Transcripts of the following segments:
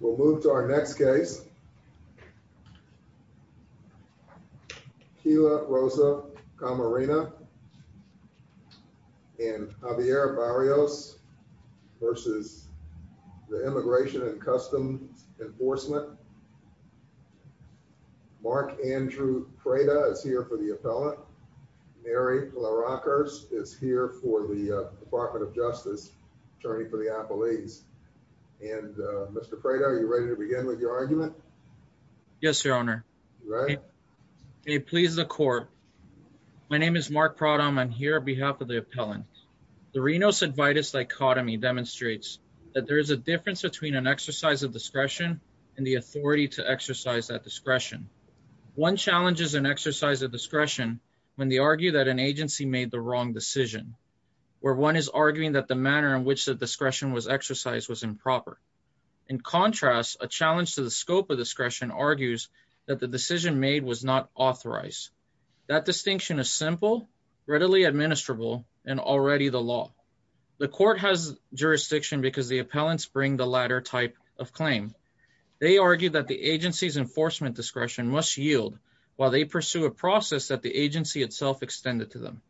We'll move to our next case. Keila Rosa Camarena and Javier Barrios v. Immigration and Customs Enforcement. Mark Andrew Prada is here for the appellant. Mary Pilaracos is here for the Department of Justice Attorney for the Appellees. And Mr. Prada, are you ready to begin with your argument? Mark Prada Yes, Your Honor. May it please the Court. My name is Mark Prada. I'm here on behalf of the appellant. The Rhinos-Advitis dichotomy demonstrates that there is a difference between an exercise of discretion and the authority to exercise that discretion. One challenges an exercise of discretion when they argue that an agency made the wrong decision, where one is arguing that the manner in which the discretion was exercised was improper. In contrast, a challenge to the scope of discretion argues that the decision made was not authorized. That distinction is simple, readily administrable, and already the law. The Court has jurisdiction because the appellants bring the latter type of claim. They argue that the agency's enforcement discretion must yield while they pursue a process that the agency itself extended to them.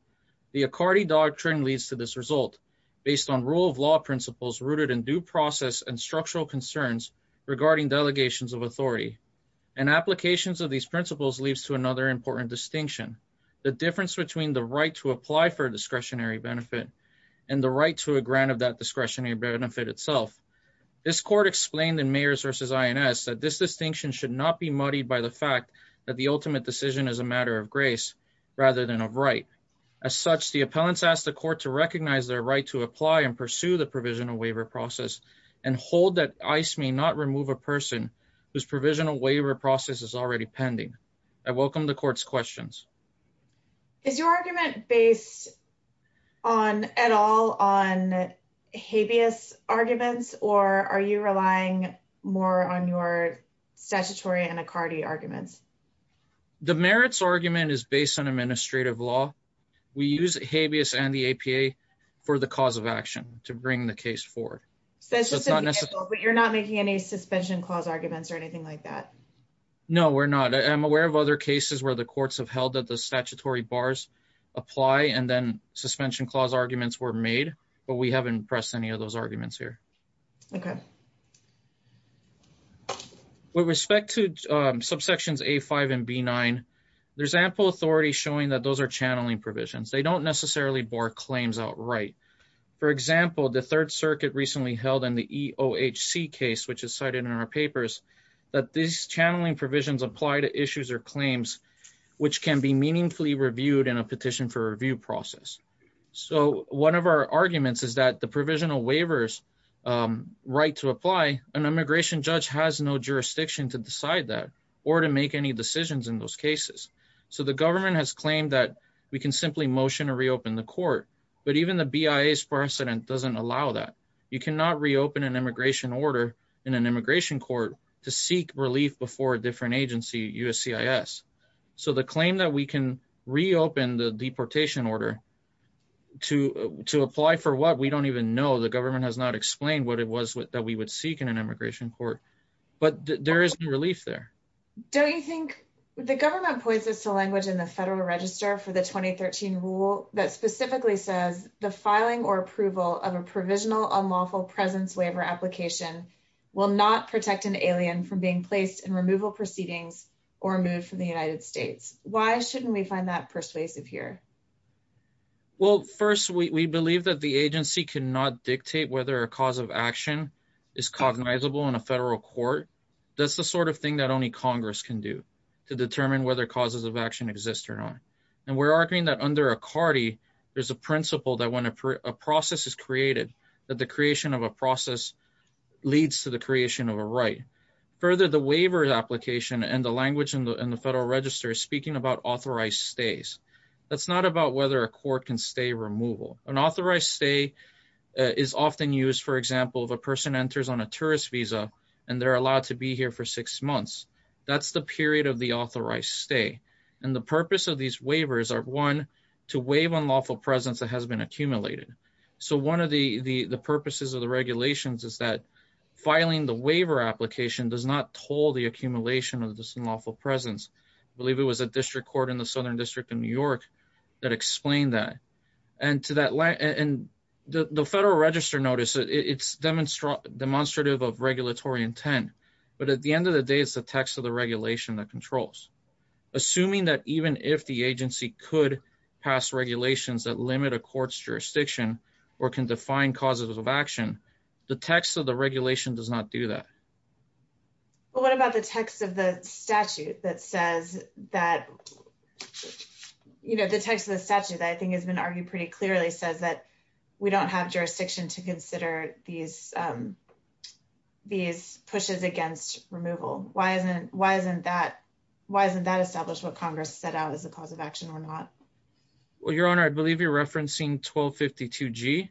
The Accardi doctrine leads to this result, based on rule of law principles rooted in due process and structural concerns regarding delegations of authority. An application of these principles leads to another important distinction, the difference between the right to apply for a discretionary benefit and the right to a grant of that discretionary benefit itself. This Court explained in Mayors v. INS that this distinction should not be muddied by the fact that the ultimate decision is a matter of grace, rather than of right. As such, the appellants ask the Court to recognize their right to apply and pursue the provisional waiver process, and hold that ICE may not remove a person whose provisional waiver process is already pending. I welcome the Court's questions. Is your argument based at all on habeas arguments, or are you relying more on your administrative law? We use habeas and the APA for the cause of action to bring the case forward. You're not making any suspension clause arguments or anything like that? No, we're not. I'm aware of other cases where the courts have held that the statutory bars apply, and then suspension clause arguments were made, but we haven't pressed any of those showing that those are channeling provisions. They don't necessarily bar claims outright. For example, the Third Circuit recently held in the EOHC case, which is cited in our papers, that these channeling provisions apply to issues or claims which can be meaningfully reviewed in a petition for review process. One of our arguments is that the provisional waiver's right to apply, an immigration judge has no jurisdiction to decide that or to make any cases. So the government has claimed that we can simply motion to reopen the court, but even the BIA's precedent doesn't allow that. You cannot reopen an immigration order in an immigration court to seek relief before a different agency, USCIS. So the claim that we can reopen the deportation order to apply for what, we don't even know. The government has not explained what it was that we would seek in an immigration court, but there is relief there. Don't you think the government points us to language in the federal register for the 2013 rule that specifically says the filing or approval of a provisional unlawful presence waiver application will not protect an alien from being placed in removal proceedings or moved from the United States. Why shouldn't we find that persuasive here? Well, first, we believe that the agency cannot dictate whether a cause of action is cognizable in a federal court. That's the sort of thing that only Congress can do to determine whether causes of action exist or not. And we're arguing that under a CARTI, there's a principle that when a process is created, that the creation of a process leads to the creation of a right. Further, the waiver application and the language in the federal register is speaking about authorized stays. That's not about whether a court can stay removal. An authorized stay is often used, for example, if a person enters on a tourist visa and they're allowed to be here for six months. That's the period of the authorized stay. And the purpose of these waivers are, one, to waive unlawful presence that has been accumulated. So one of the purposes of the regulations is that filing the waiver application does not toll the accumulation of this unlawful presence. I believe it was a district court in the Southern District of New York that explained that. And the federal register notice, it's demonstrative of regulatory intent. But at the end of the day, it's the text of the regulation that controls. Assuming that even if the agency could pass regulations that limit a court's jurisdiction or can define causes of action, the text of the regulation does not do that. Well, what about the text of the statute that says that, you know, the text of the statute, I think, has been argued pretty clearly says that we don't have jurisdiction to consider these pushes against removal. Why isn't that established what Congress set out as a cause of action or not? Well, Your Honor, I believe you're referencing 1252G,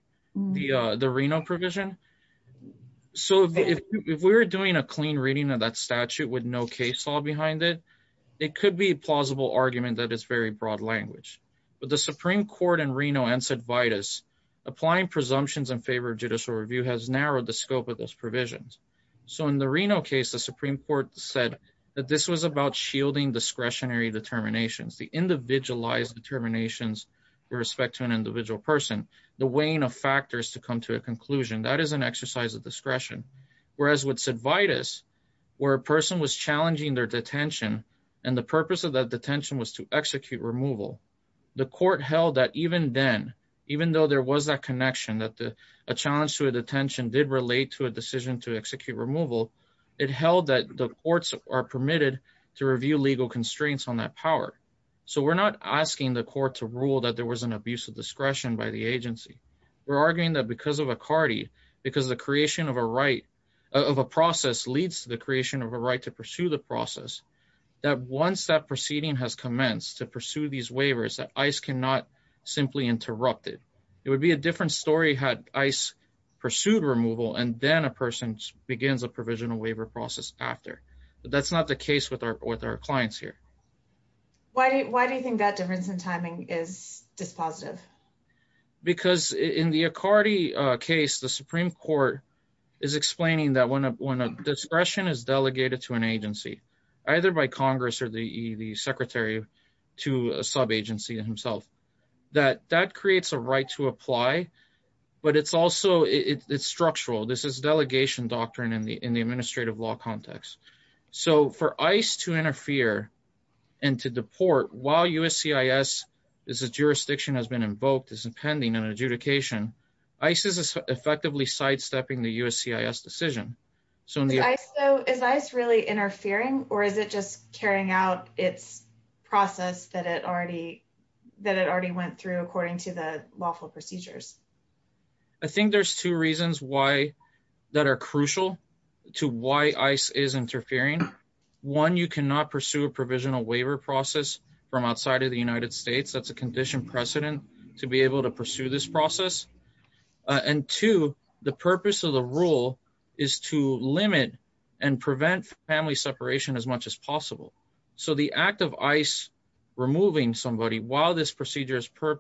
the Reno provision. So if we were to do a clean reading of that statute with no case law behind it, it could be a plausible argument that is very broad language. But the Supreme Court in Reno and Cedvitas, applying presumptions in favor of judicial review has narrowed the scope of those provisions. So in the Reno case, the Supreme Court said that this was about shielding discretionary determinations, the individualized determinations with respect to an individual person, the weighing of factors to come to a where a person was challenging their detention. And the purpose of that detention was to execute removal. The court held that even then, even though there was that connection that a challenge to a detention did relate to a decision to execute removal, it held that the courts are permitted to review legal constraints on that power. So we're not asking the court to rule that there was an abuse of discretion by the agency. We're arguing that because of a CARTI, because the creation of a right of a process leads to the creation of a right to pursue the process, that once that proceeding has commenced to pursue these waivers, that ICE cannot simply interrupt it. It would be a different story had ICE pursued removal and then a person begins a provisional waiver process after. But that's not the case with our with our clients here. Why do you think that difference in because in the CARTI case, the Supreme Court is explaining that when a discretion is delegated to an agency, either by Congress or the secretary to a sub agency himself, that that creates a right to apply. But it's also it's structural. This is delegation doctrine in the in the administrative law context. So for ICE to interfere and to deport while USCIS is a jurisdiction has been invoked, is impending an adjudication, ICE is effectively sidestepping the USCIS decision. So is ICE really interfering or is it just carrying out its process that it already that it already went through according to the lawful procedures? I think there's two reasons why that are crucial to why ICE is interfering. One, you cannot pursue a provisional waiver process from outside of the United States. That's a condition precedent to be able to pursue this process. And two, the purpose of the rule is to limit and prevent family separation as much as possible. So the act of ICE removing somebody while this procedure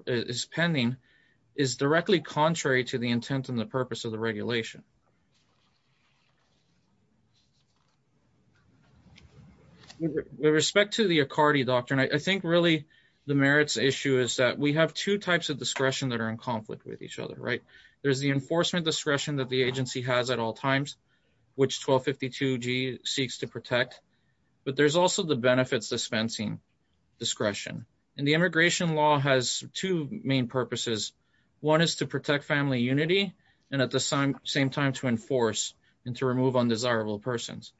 is pending is directly contrary to the intent and the purpose of the regulation. With respect to the Accardi doctrine, I think really, the merits issue is that we have two types of discretion that are in conflict with each other, right? There's the enforcement discretion that the agency has at all times, which 1252g seeks to protect. But there's also the benefits dispensing discretion. And the immigration law has two main purposes. One is protect family unity and at the same time to enforce and to remove undesirable persons.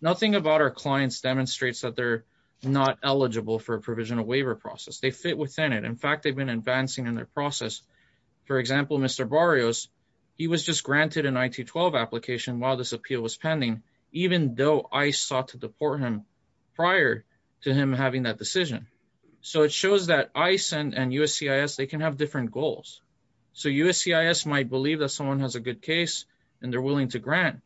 Nothing about our clients demonstrates that they're not eligible for a provisional waiver process. They fit within it. In fact, they've been advancing in their process. For example, Mr. Barrios, he was just granted an IT-12 application while this appeal was pending, even though ICE sought to deport him prior to him having that decision. So it shows that ICE and USCIS, they can have different goals. So USCIS might believe that someone has a good case and they're willing to grant.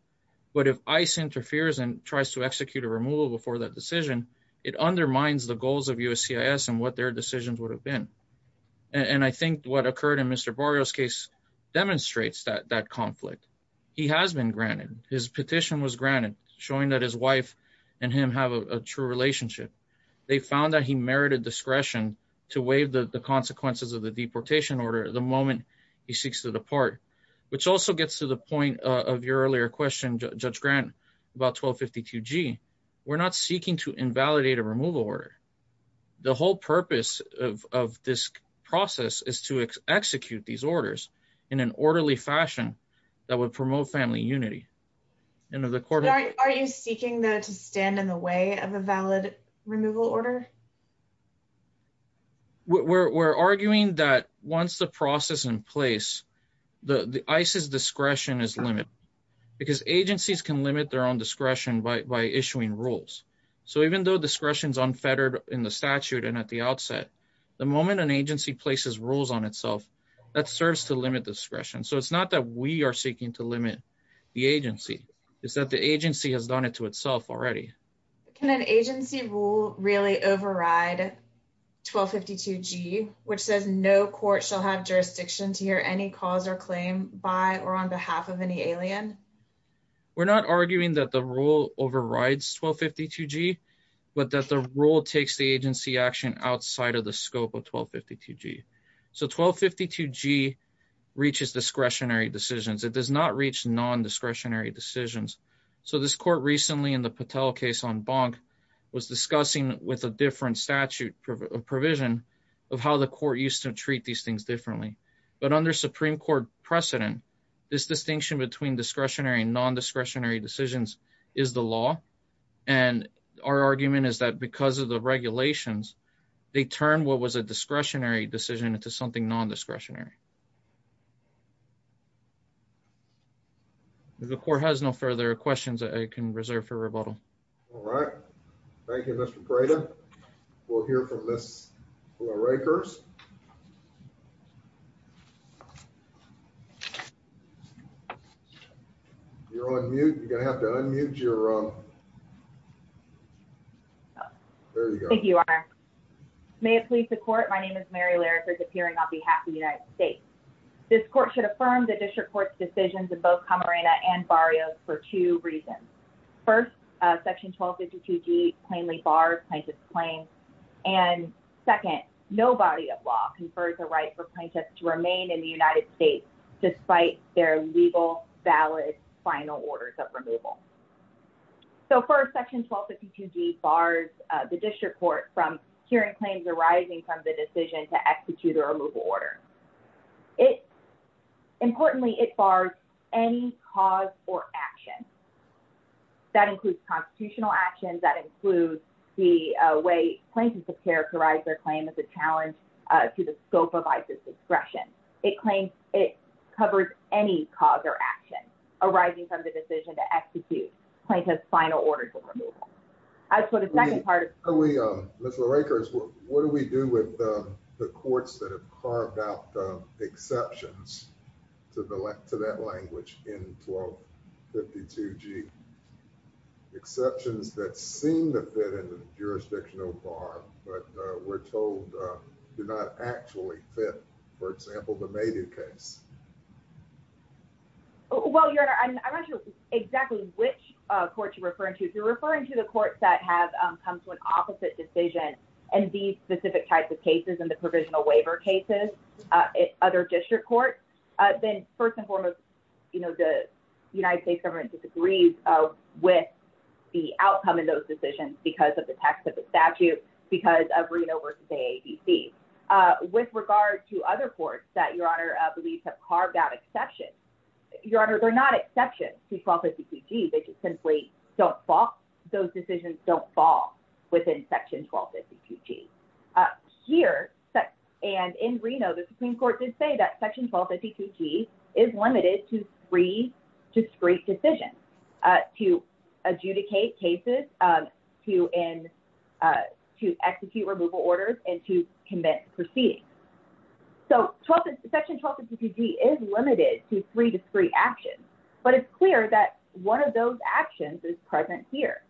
But if ICE interferes and tries to execute a removal before that decision, it undermines the goals of USCIS and what their decisions would have been. And I think what occurred in Mr. Barrios case demonstrates that conflict. He has been granted, his petition was granted, showing that his wife and him have a true relationship. They found that he merited discretion to waive the consequences of the deportation order the moment he seeks to depart, which also gets to the point of your earlier question, Judge Grant, about 1252G. We're not seeking to invalidate a removal order. The whole purpose of this process is to execute these orders in an orderly fashion that would promote family unity. And are you seeking to stand in the way of a valid removal order? We're arguing that once the process in place, the ICE's discretion is limited because agencies can limit their own discretion by issuing rules. So even though discretion is unfettered in the statute and at the outset, the moment an agency places rules on itself, that serves to limit discretion. So it's not that we are seeking to limit the agency. It's that the agency has done it to itself already. Can an agency rule really override 1252G, which says no court shall have jurisdiction to hear any cause or claim by or on behalf of any alien? We're not arguing that the rule overrides 1252G, but that the rule takes the agency action outside of the scope of 1252G. So 1252G reaches discretionary decisions. It does not reach non-discretionary decisions. So this court recently in the Patel case on Bonk was discussing with a different statute provision of how the court used to treat these things differently. But under Supreme Court precedent, this distinction between discretionary and non-discretionary decisions is the law. And our argument is that because of the regulations, they turn what was a discretionary decision into something non-discretionary. The court has no further questions that I can reserve for rebuttal. All right. Thank you, Mr. Prata. We'll hear from Ms. Florey-Kurse. You're on mute. You're going to have to unmute your... There you go. Thank you, Your Honor. May it please the court, my name is Mary Lariker, appearing on behalf of the United States. This court should affirm the district court's decisions in both Camarena and Barrios for two reasons. First, Section 1252G plainly bars plaintiff's claim. And second, no body of law confers the right for plaintiffs to remain in the United States despite their legal, valid, final orders of removal. So first, Section 1252G bars the district court from hearing claims arising from the decision to execute a removal order. Importantly, it bars any cause or action. That includes constitutional actions, that includes the way plaintiffs have characterized their claim as a challenge to the scope of ICE's discretion. It claims it covers any cause or action arising from the decision to execute plaintiff's final orders of removal. As for the second part of... Ms. Lariker, what do we do with the courts that have carved out the exceptions to that language in 1252G? Exceptions that seem to fit in the jurisdictional bar, but we're told do not actually fit, for example, the Maydia case. Well, Your Honor, I'm not sure exactly which court you're referring to. If you're referring to the courts that have come to an opposite decision and these specific types of cases in the provisional waiver cases, other district courts, then first and foremost, the United States government disagrees with the outcome of those decisions because of the text of the statute, because of Reno v. AADC. With regard to other courts that Your Honor believes have carved out exceptions, Your Honor, they're not exceptions to 1252G. They just simply don't fall. Those in Reno, the Supreme Court did say that section 1252G is limited to three discrete decisions to adjudicate cases, to execute removal orders, and to commit proceedings. So section 1252G is limited to three discrete actions, but it's clear that one of those actions is present here.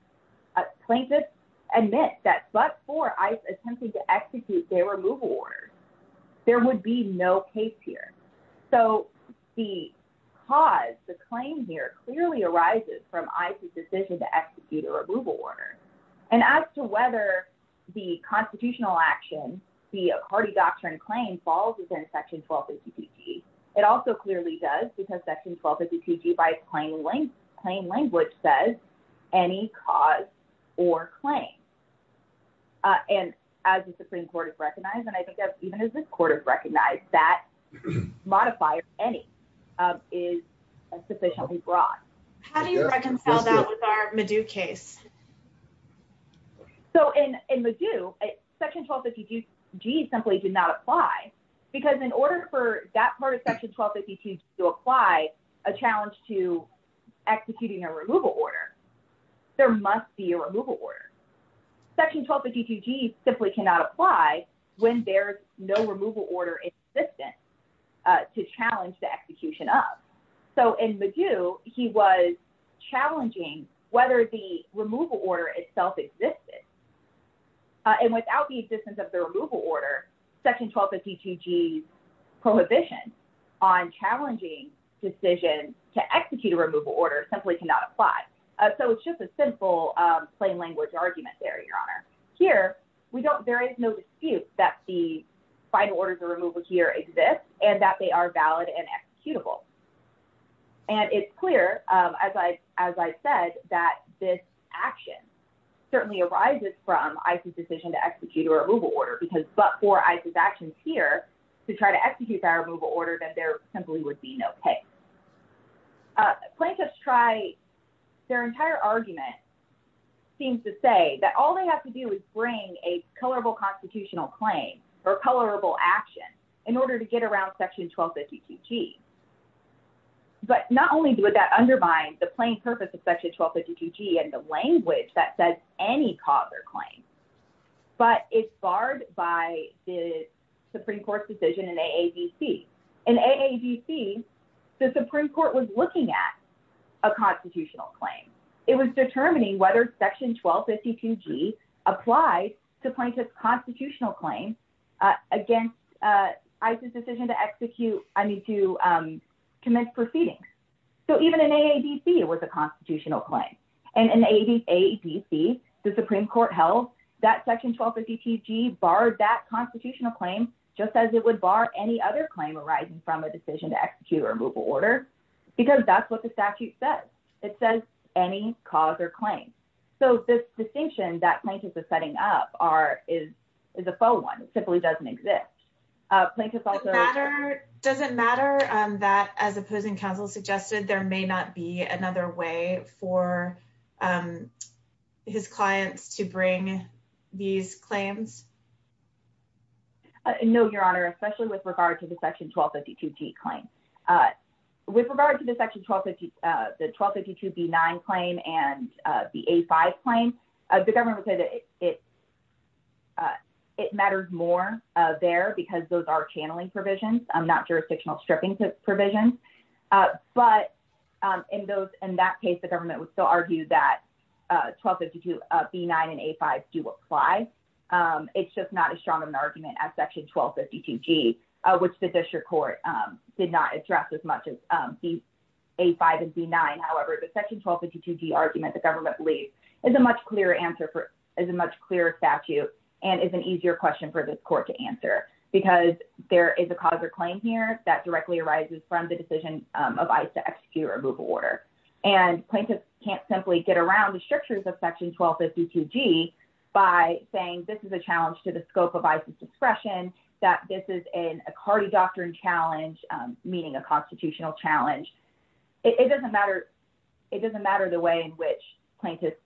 Plaintiffs admit that but for ICE attempting to execute their removal orders, there would be no case here. So the cause, the claim here clearly arises from ICE's decision to execute a removal order. And as to whether the constitutional action, the Accardi doctrine claim falls within section 1252G, it also clearly does because section 1252G by its plain language says any cause or claim. And as the Supreme Court has recognized, and I think even as this Court has recognized, that modifier any is sufficiently broad. How do you reconcile that with our MADU case? So in MADU, section 1252G simply did not apply because in order for that part of section 1252G to apply a challenge to executing a removal order, there must be a removal order. Section 1252G simply cannot apply when there's no removal order in existence to challenge the execution of. So in MADU, he was challenging whether the removal order itself existed. And without the existence of the removal order, section 1252G's prohibition on challenging decision to execute a removal order simply cannot apply. So it's just a simple plain language argument there, Your Honor. Here, there is no dispute that the final orders of removal here exist and that they are valid and executable. And it's clear, as I said, that this action certainly arises from ICE's decision to execute a removal order because but for ICE's actions here to try to execute that removal order, then there simply would be no case. Plaintiffs try, their entire argument seems to say that all they have to do is bring a colorable constitutional claim or colorable action in order to get around section 1252G. But not only would that undermine the plain purpose of section 1252G and the language that says any cause or claim, but it's barred by the Supreme Court's decision in AAVC. In AAVC, the Supreme Court was looking at a constitutional claim. It was determining whether section 1252G applied to plaintiff's constitutional claim against ICE's decision to execute, I mean to commence proceedings. So even in AAVC, it was a constitutional claim. And in AAVC, the Supreme Court held that section 1252G barred that constitutional claim just as it would bar any other claim arising from a decision to execute a removal order because that's what the statute says. It says any cause or claim. So this distinction that plaintiff is setting up is a faux one. It simply doesn't exist. Plaintiffs also- Does it matter that as opposing counsel suggested, there may not be another way for his clients to bring these claims? No, Your Honor, especially with regard to the section 1252G claim. With regard to the 1252B9 claim and the A5 claim, the government would say that it matters more there because those are channeling provisions, not jurisdictional stripping provisions. But in that case, the government would still argue that 1252B9 and A5 do apply. It's just not as strong of an argument as section 1252G, which the district court did not address as much as A5 and B9. However, the section 1252G argument, the government believes, is a much clearer answer, is a much clearer statute and is an easier question for this court to answer because there is a cause or claim here that directly arises from the decision of ICE to execute a removal order. And plaintiffs can't simply get around the this is a challenge to the scope of ICE's discretion, that this is a cardidoctrine challenge, meaning a constitutional challenge. It doesn't matter the way in which plaintiffs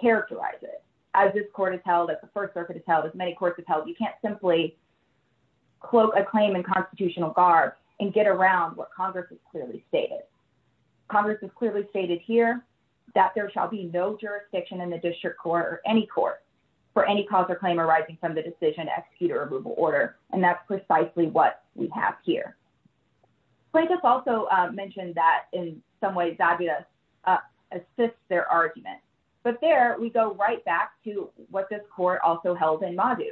characterize it. As this court has held, as the First Circuit has held, as many courts have held, you can't simply cloak a claim in constitutional garb and get around what Congress has clearly stated. Congress has clearly stated here that there shall be no jurisdiction in the district any court for any cause or claim arising from the decision to execute a removal order, and that's precisely what we have here. Plaintiffs also mentioned that in some ways Zabias assists their argument. But there, we go right back to what this court also held in Madu.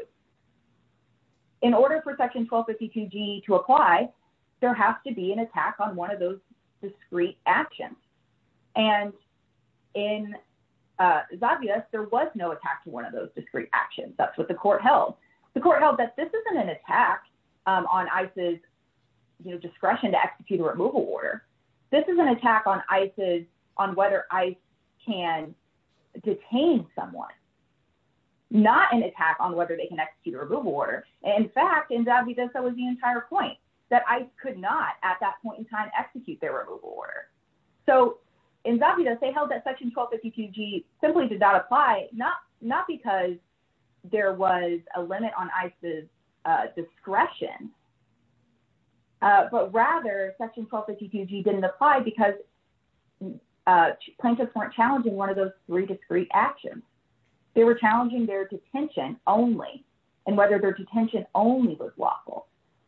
In order for section 1252G to apply, there has to be an attack on one of those discrete actions. And in Zabias, there was no attack to one of those discrete actions. That's what the court held. The court held that this isn't an attack on ICE's discretion to execute a removal order. This is an attack on whether ICE can detain someone, not an attack on whether they can execute a removal order. In fact, in Zabias, that was the entire point, that ICE could not at that point in time execute their removal order. So in Zabias, they held that section 1252G simply did not apply, not because there was a limit on ICE's discretion, but rather section 1252G didn't apply because plaintiffs weren't challenging one of those three discrete actions. They were challenging their detention only and whether their detention only was lawful,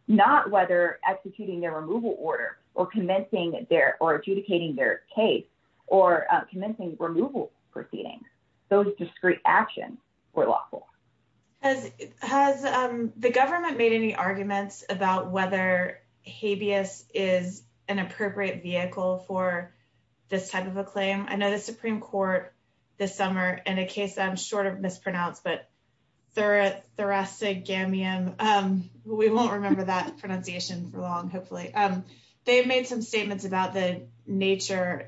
not whether executing their removal order or commencing their or adjudicating their case or commencing removal proceedings. Those discrete actions were lawful. Has the government made any arguments about whether habeas is an appropriate vehicle for this type of a claim? I know the Supreme Court this summer in a case that I'm short of pronounced, but we won't remember that pronunciation for long, hopefully. They've made some statements about the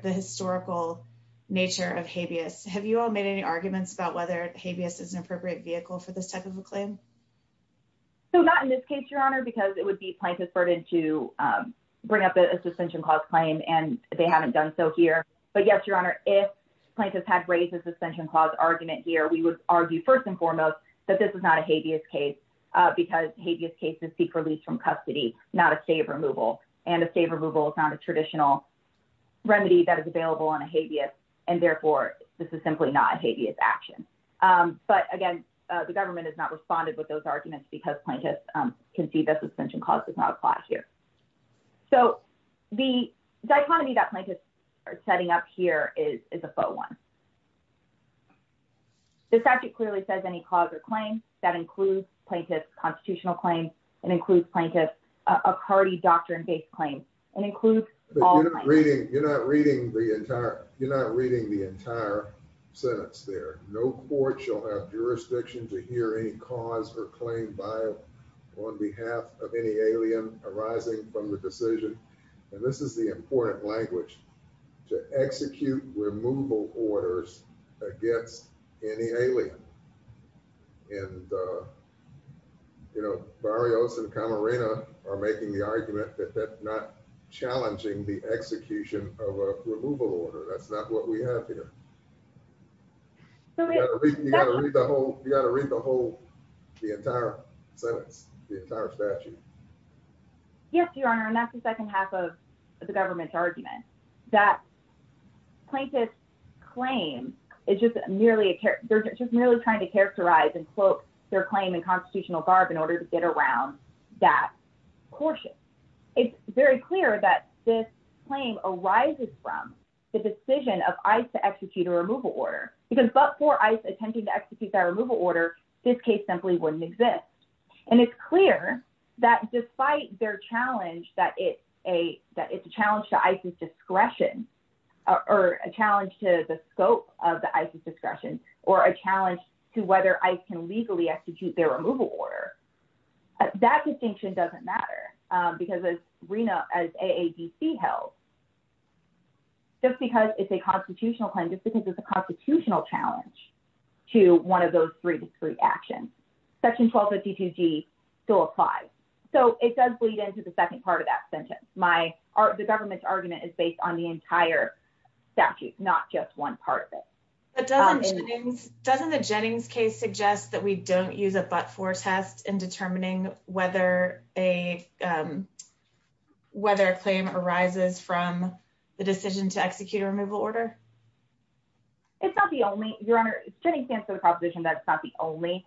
historical nature of habeas. Have you all made any arguments about whether habeas is an appropriate vehicle for this type of a claim? So not in this case, Your Honor, because it would be plaintiff's burden to bring up a suspension clause claim and they haven't done so here. But yes, Your Honor, if plaintiffs had raised a suspension clause argument here, we would argue first and foremost that this is not a habeas case because habeas cases seek release from custody, not a state of removal. And a state of removal is not a traditional remedy that is available on a habeas and therefore this is simply not a habeas action. But again, the government has not responded with those arguments because plaintiffs concede that suspension clause does not apply here. So the dichotomy that plaintiffs are setting up is a faux one. The statute clearly says any cause or claim that includes plaintiff's constitutional claim and includes plaintiff's a party doctrine-based claim and includes... You're not reading the entire sentence there. No court shall have jurisdiction to hear any cause or claim by or on behalf of any alien arising from the decision. And this is the language to execute removal orders against any alien. And, you know, Barrios and Camarena are making the argument that they're not challenging the execution of a removal order. That's not what we have here. You got to read the whole, you got to read the whole, the entire sentence, the entire statute. Yes, Your Honor, and that's the second half of the government's argument. That plaintiff's claim is just merely a... They're just merely trying to characterize and quote their claim in constitutional garb in order to get around that caution. It's very clear that this claim arises from the decision of ICE to execute a removal order because but for ICE attempting to execute that removal order, this case simply wouldn't exist. And it's clear that despite their challenge that it's a challenge to ICE's discretion or a challenge to the scope of the ICE's discretion or a challenge to whether ICE can legally execute their removal order, that distinction doesn't matter because as Rina, as AADC held, just because it's a constitutional claim, just because it's a constitutional challenge to one of those three discrete actions, Section 1252G still applies. So it does bleed into the second part of that sentence. The government's argument is based on the entire statute, not just one part of it. But doesn't Jennings, doesn't the Jennings case suggest that we don't use a but-for test in determining whether a claim arises from the decision to execute a removal order? It's not the only, Your Honor, Jennings stands for the proposition that it's not the only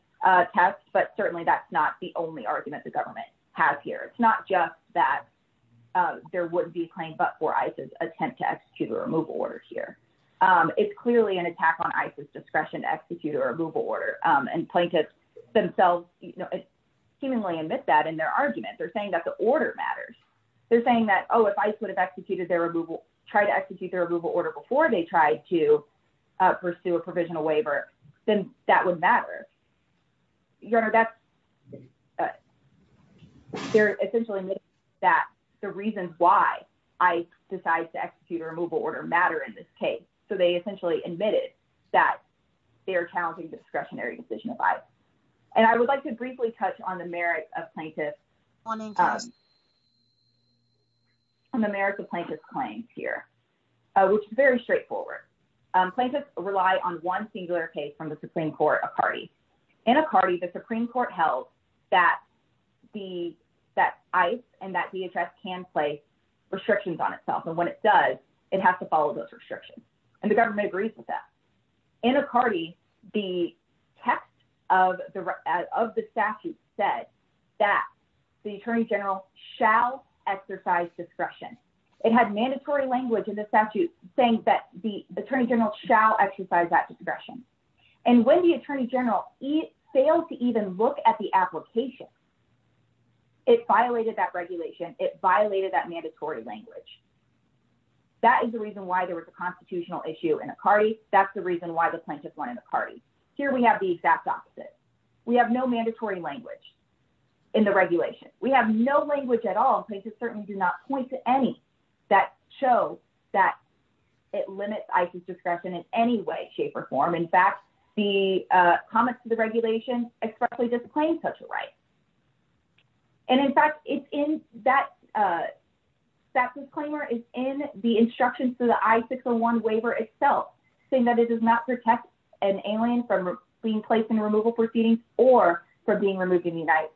test, but certainly that's not the only argument the government has here. It's not just that there wouldn't be a claim but-for ICE's attempt to execute a removal order here. It's clearly an attack on ICE's discretion to execute a removal order and plaintiffs themselves, you know, seemingly admit that in their argument. They're saying that the order matters. They're saying that, oh, if ICE would have executed their removal, tried to execute their removal order before they tried to pursue a provisional waiver, then that would matter. Your Honor, that's, they're essentially admitting that the reasons why ICE decides to execute a removal order matter in this case. So they essentially admitted that they're challenging discretionary decision of ICE. And I would like to briefly touch on the merit of plaintiffs, on the merit of plaintiffs' claims here, which is very straightforward. Plaintiffs rely on one singular case from the Supreme Court, Icardi. In Icardi, the Supreme Court held that ICE and that DHS can place restrictions on itself. And when it does, it has to follow those restrictions. And the government agrees with that. In Icardi, the text of the statute said that the Attorney General shall exercise discretion. It had mandatory language in the statute saying that the Attorney General shall exercise that discretion. And when the Attorney General failed to even look at the application, it violated that regulation. It violated that mandatory language. That is the reason why there was a constitutional issue in Icardi. That's the reason why the plaintiffs won in Icardi. Here we have the exact opposite. We have no mandatory language in the regulation. We have no language at all. Plaintiffs certainly do not point to any that shows that it limits ICE's discretion in any way, shape, or form. In fact, the comments to the regulation expressly discipline such a right. And in fact, it's in that statute's claimer is in the instructions to the I-601 waiver itself saying that it does protect an alien from being placed in removal proceedings or from being removed from the United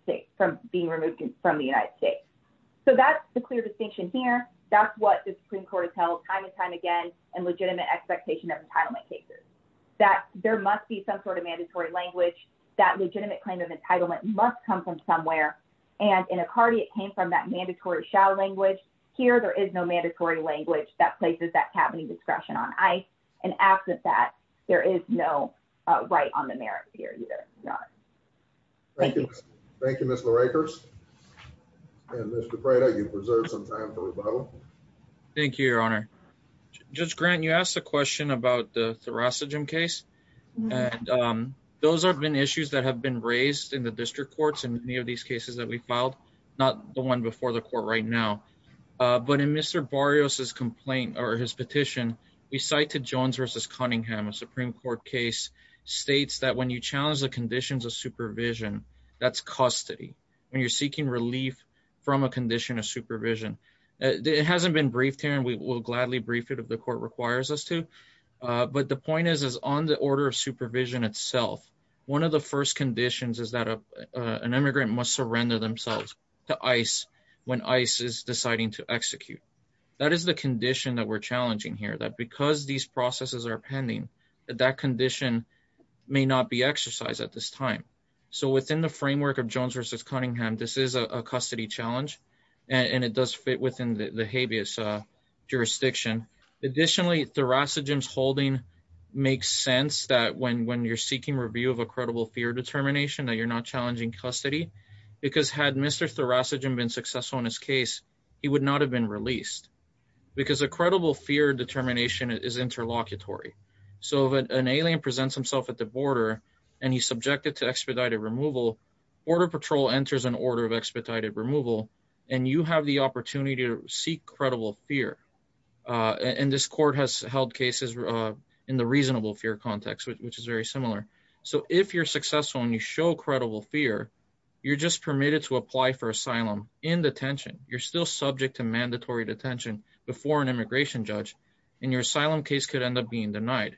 States. So that's the clear distinction here. That's what the Supreme Court has held time and time again in legitimate expectation of entitlement cases. That there must be some sort of mandatory language. That legitimate claim of entitlement must come from somewhere. And in Icardi, it came from that mandatory shall language. Here, there is no mandatory language that places that cabinet discretion on ICE. And absent that, there is no right on the merits here either. None. Thank you. Thank you, Ms. LaRueckers. And Mr. Prado, you've reserved some time for rebuttal. Thank you, Your Honor. Judge Grant, you asked a question about the thoracogen case, and those have been issues that have been raised in the district courts in any of these cases that we petition. We cite to Jones v. Cunningham, a Supreme Court case, states that when you challenge the conditions of supervision, that's custody. When you're seeking relief from a condition of supervision. It hasn't been briefed here, and we will gladly brief it if the court requires us to, but the point is on the order of supervision itself, one of the first conditions is that an immigrant must surrender themselves to ICE when ICE is deciding to execute. That is the condition that we're challenging here, that because these processes are pending, that that condition may not be exercised at this time. So within the framework of Jones v. Cunningham, this is a custody challenge, and it does fit within the habeas jurisdiction. Additionally, thoracogen's holding makes sense that when you're seeking review of a credible fear determination, that you're not challenging custody, because had Mr. Thoracogen been successful in his case, he would not have been released, because a credible fear determination is interlocutory. So if an alien presents himself at the border, and he's subjected to expedited removal, border patrol enters an order of expedited removal, and you have the opportunity to seek credible fear, and this court has held cases in the reasonable fear context, which is very similar. So if you're successful and you show credible fear, you're just permitted to apply for asylum in detention. You're still subject to mandatory detention before an immigration judge, and your asylum case could end up being denied.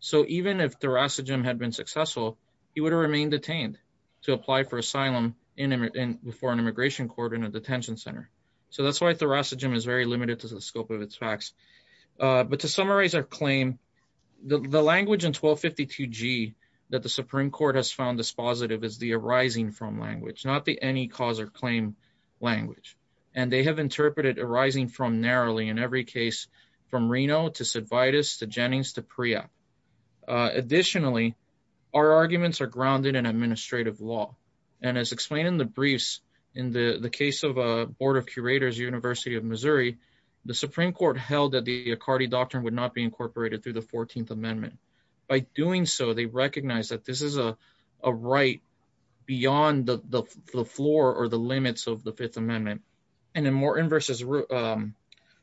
So even if Thoracogen had been successful, he would have remained detained to apply for asylum before an immigration court in a detention center. So that's why Thoracogen is very limited to the scope of its facts. But to summarize our claim, the language in 1252G that the Supreme Court has found dispositive is the arising from language, not the any cause or claim language. And they have interpreted arising from narrowly in every case, from Reno to Cidvitis to Jennings to Pria. Additionally, our arguments are grounded in administrative law. And as explained in the briefs, in the case of a board of curators, University of Missouri, the Supreme Court held that the Accardi Doctrine would not be incorporated through the 14th Amendment. By doing so, they recognize that this is a right beyond the floor or the limits of the Fifth Amendment. And in Morton v.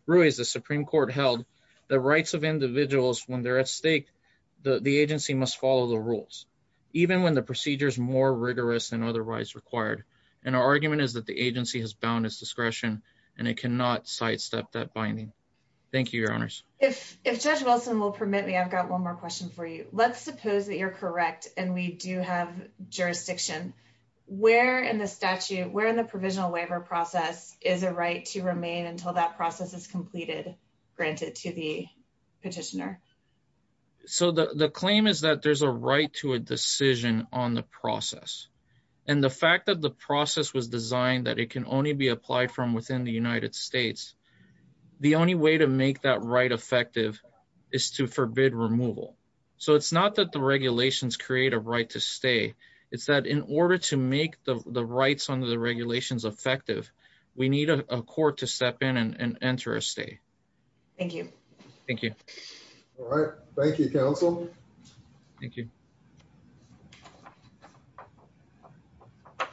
Ruiz, the Supreme Court held the rights of individuals when they're at stake, the agency must follow the rules, even when the procedure is more rigorous than otherwise required. And our argument is that the agency has bound its discretion and it cannot sidestep that binding. Thank you, Your Honors. If Judge Wilson will permit me, I've got one more question for you. Let's suppose that you're correct and we do have jurisdiction. Where in the statute, where in the provisional waiver process is a right to remain until that process is completed, granted to the petitioner? So the claim is that there's a right to a decision on the process. And the fact that the process was in the United States, the only way to make that right effective is to forbid removal. So it's not that the regulations create a right to stay. It's that in order to make the rights under the regulations effective, we need a court to step in and enter a stay. Thank you. Thank you. All right. Thank you, counsel. Thank you.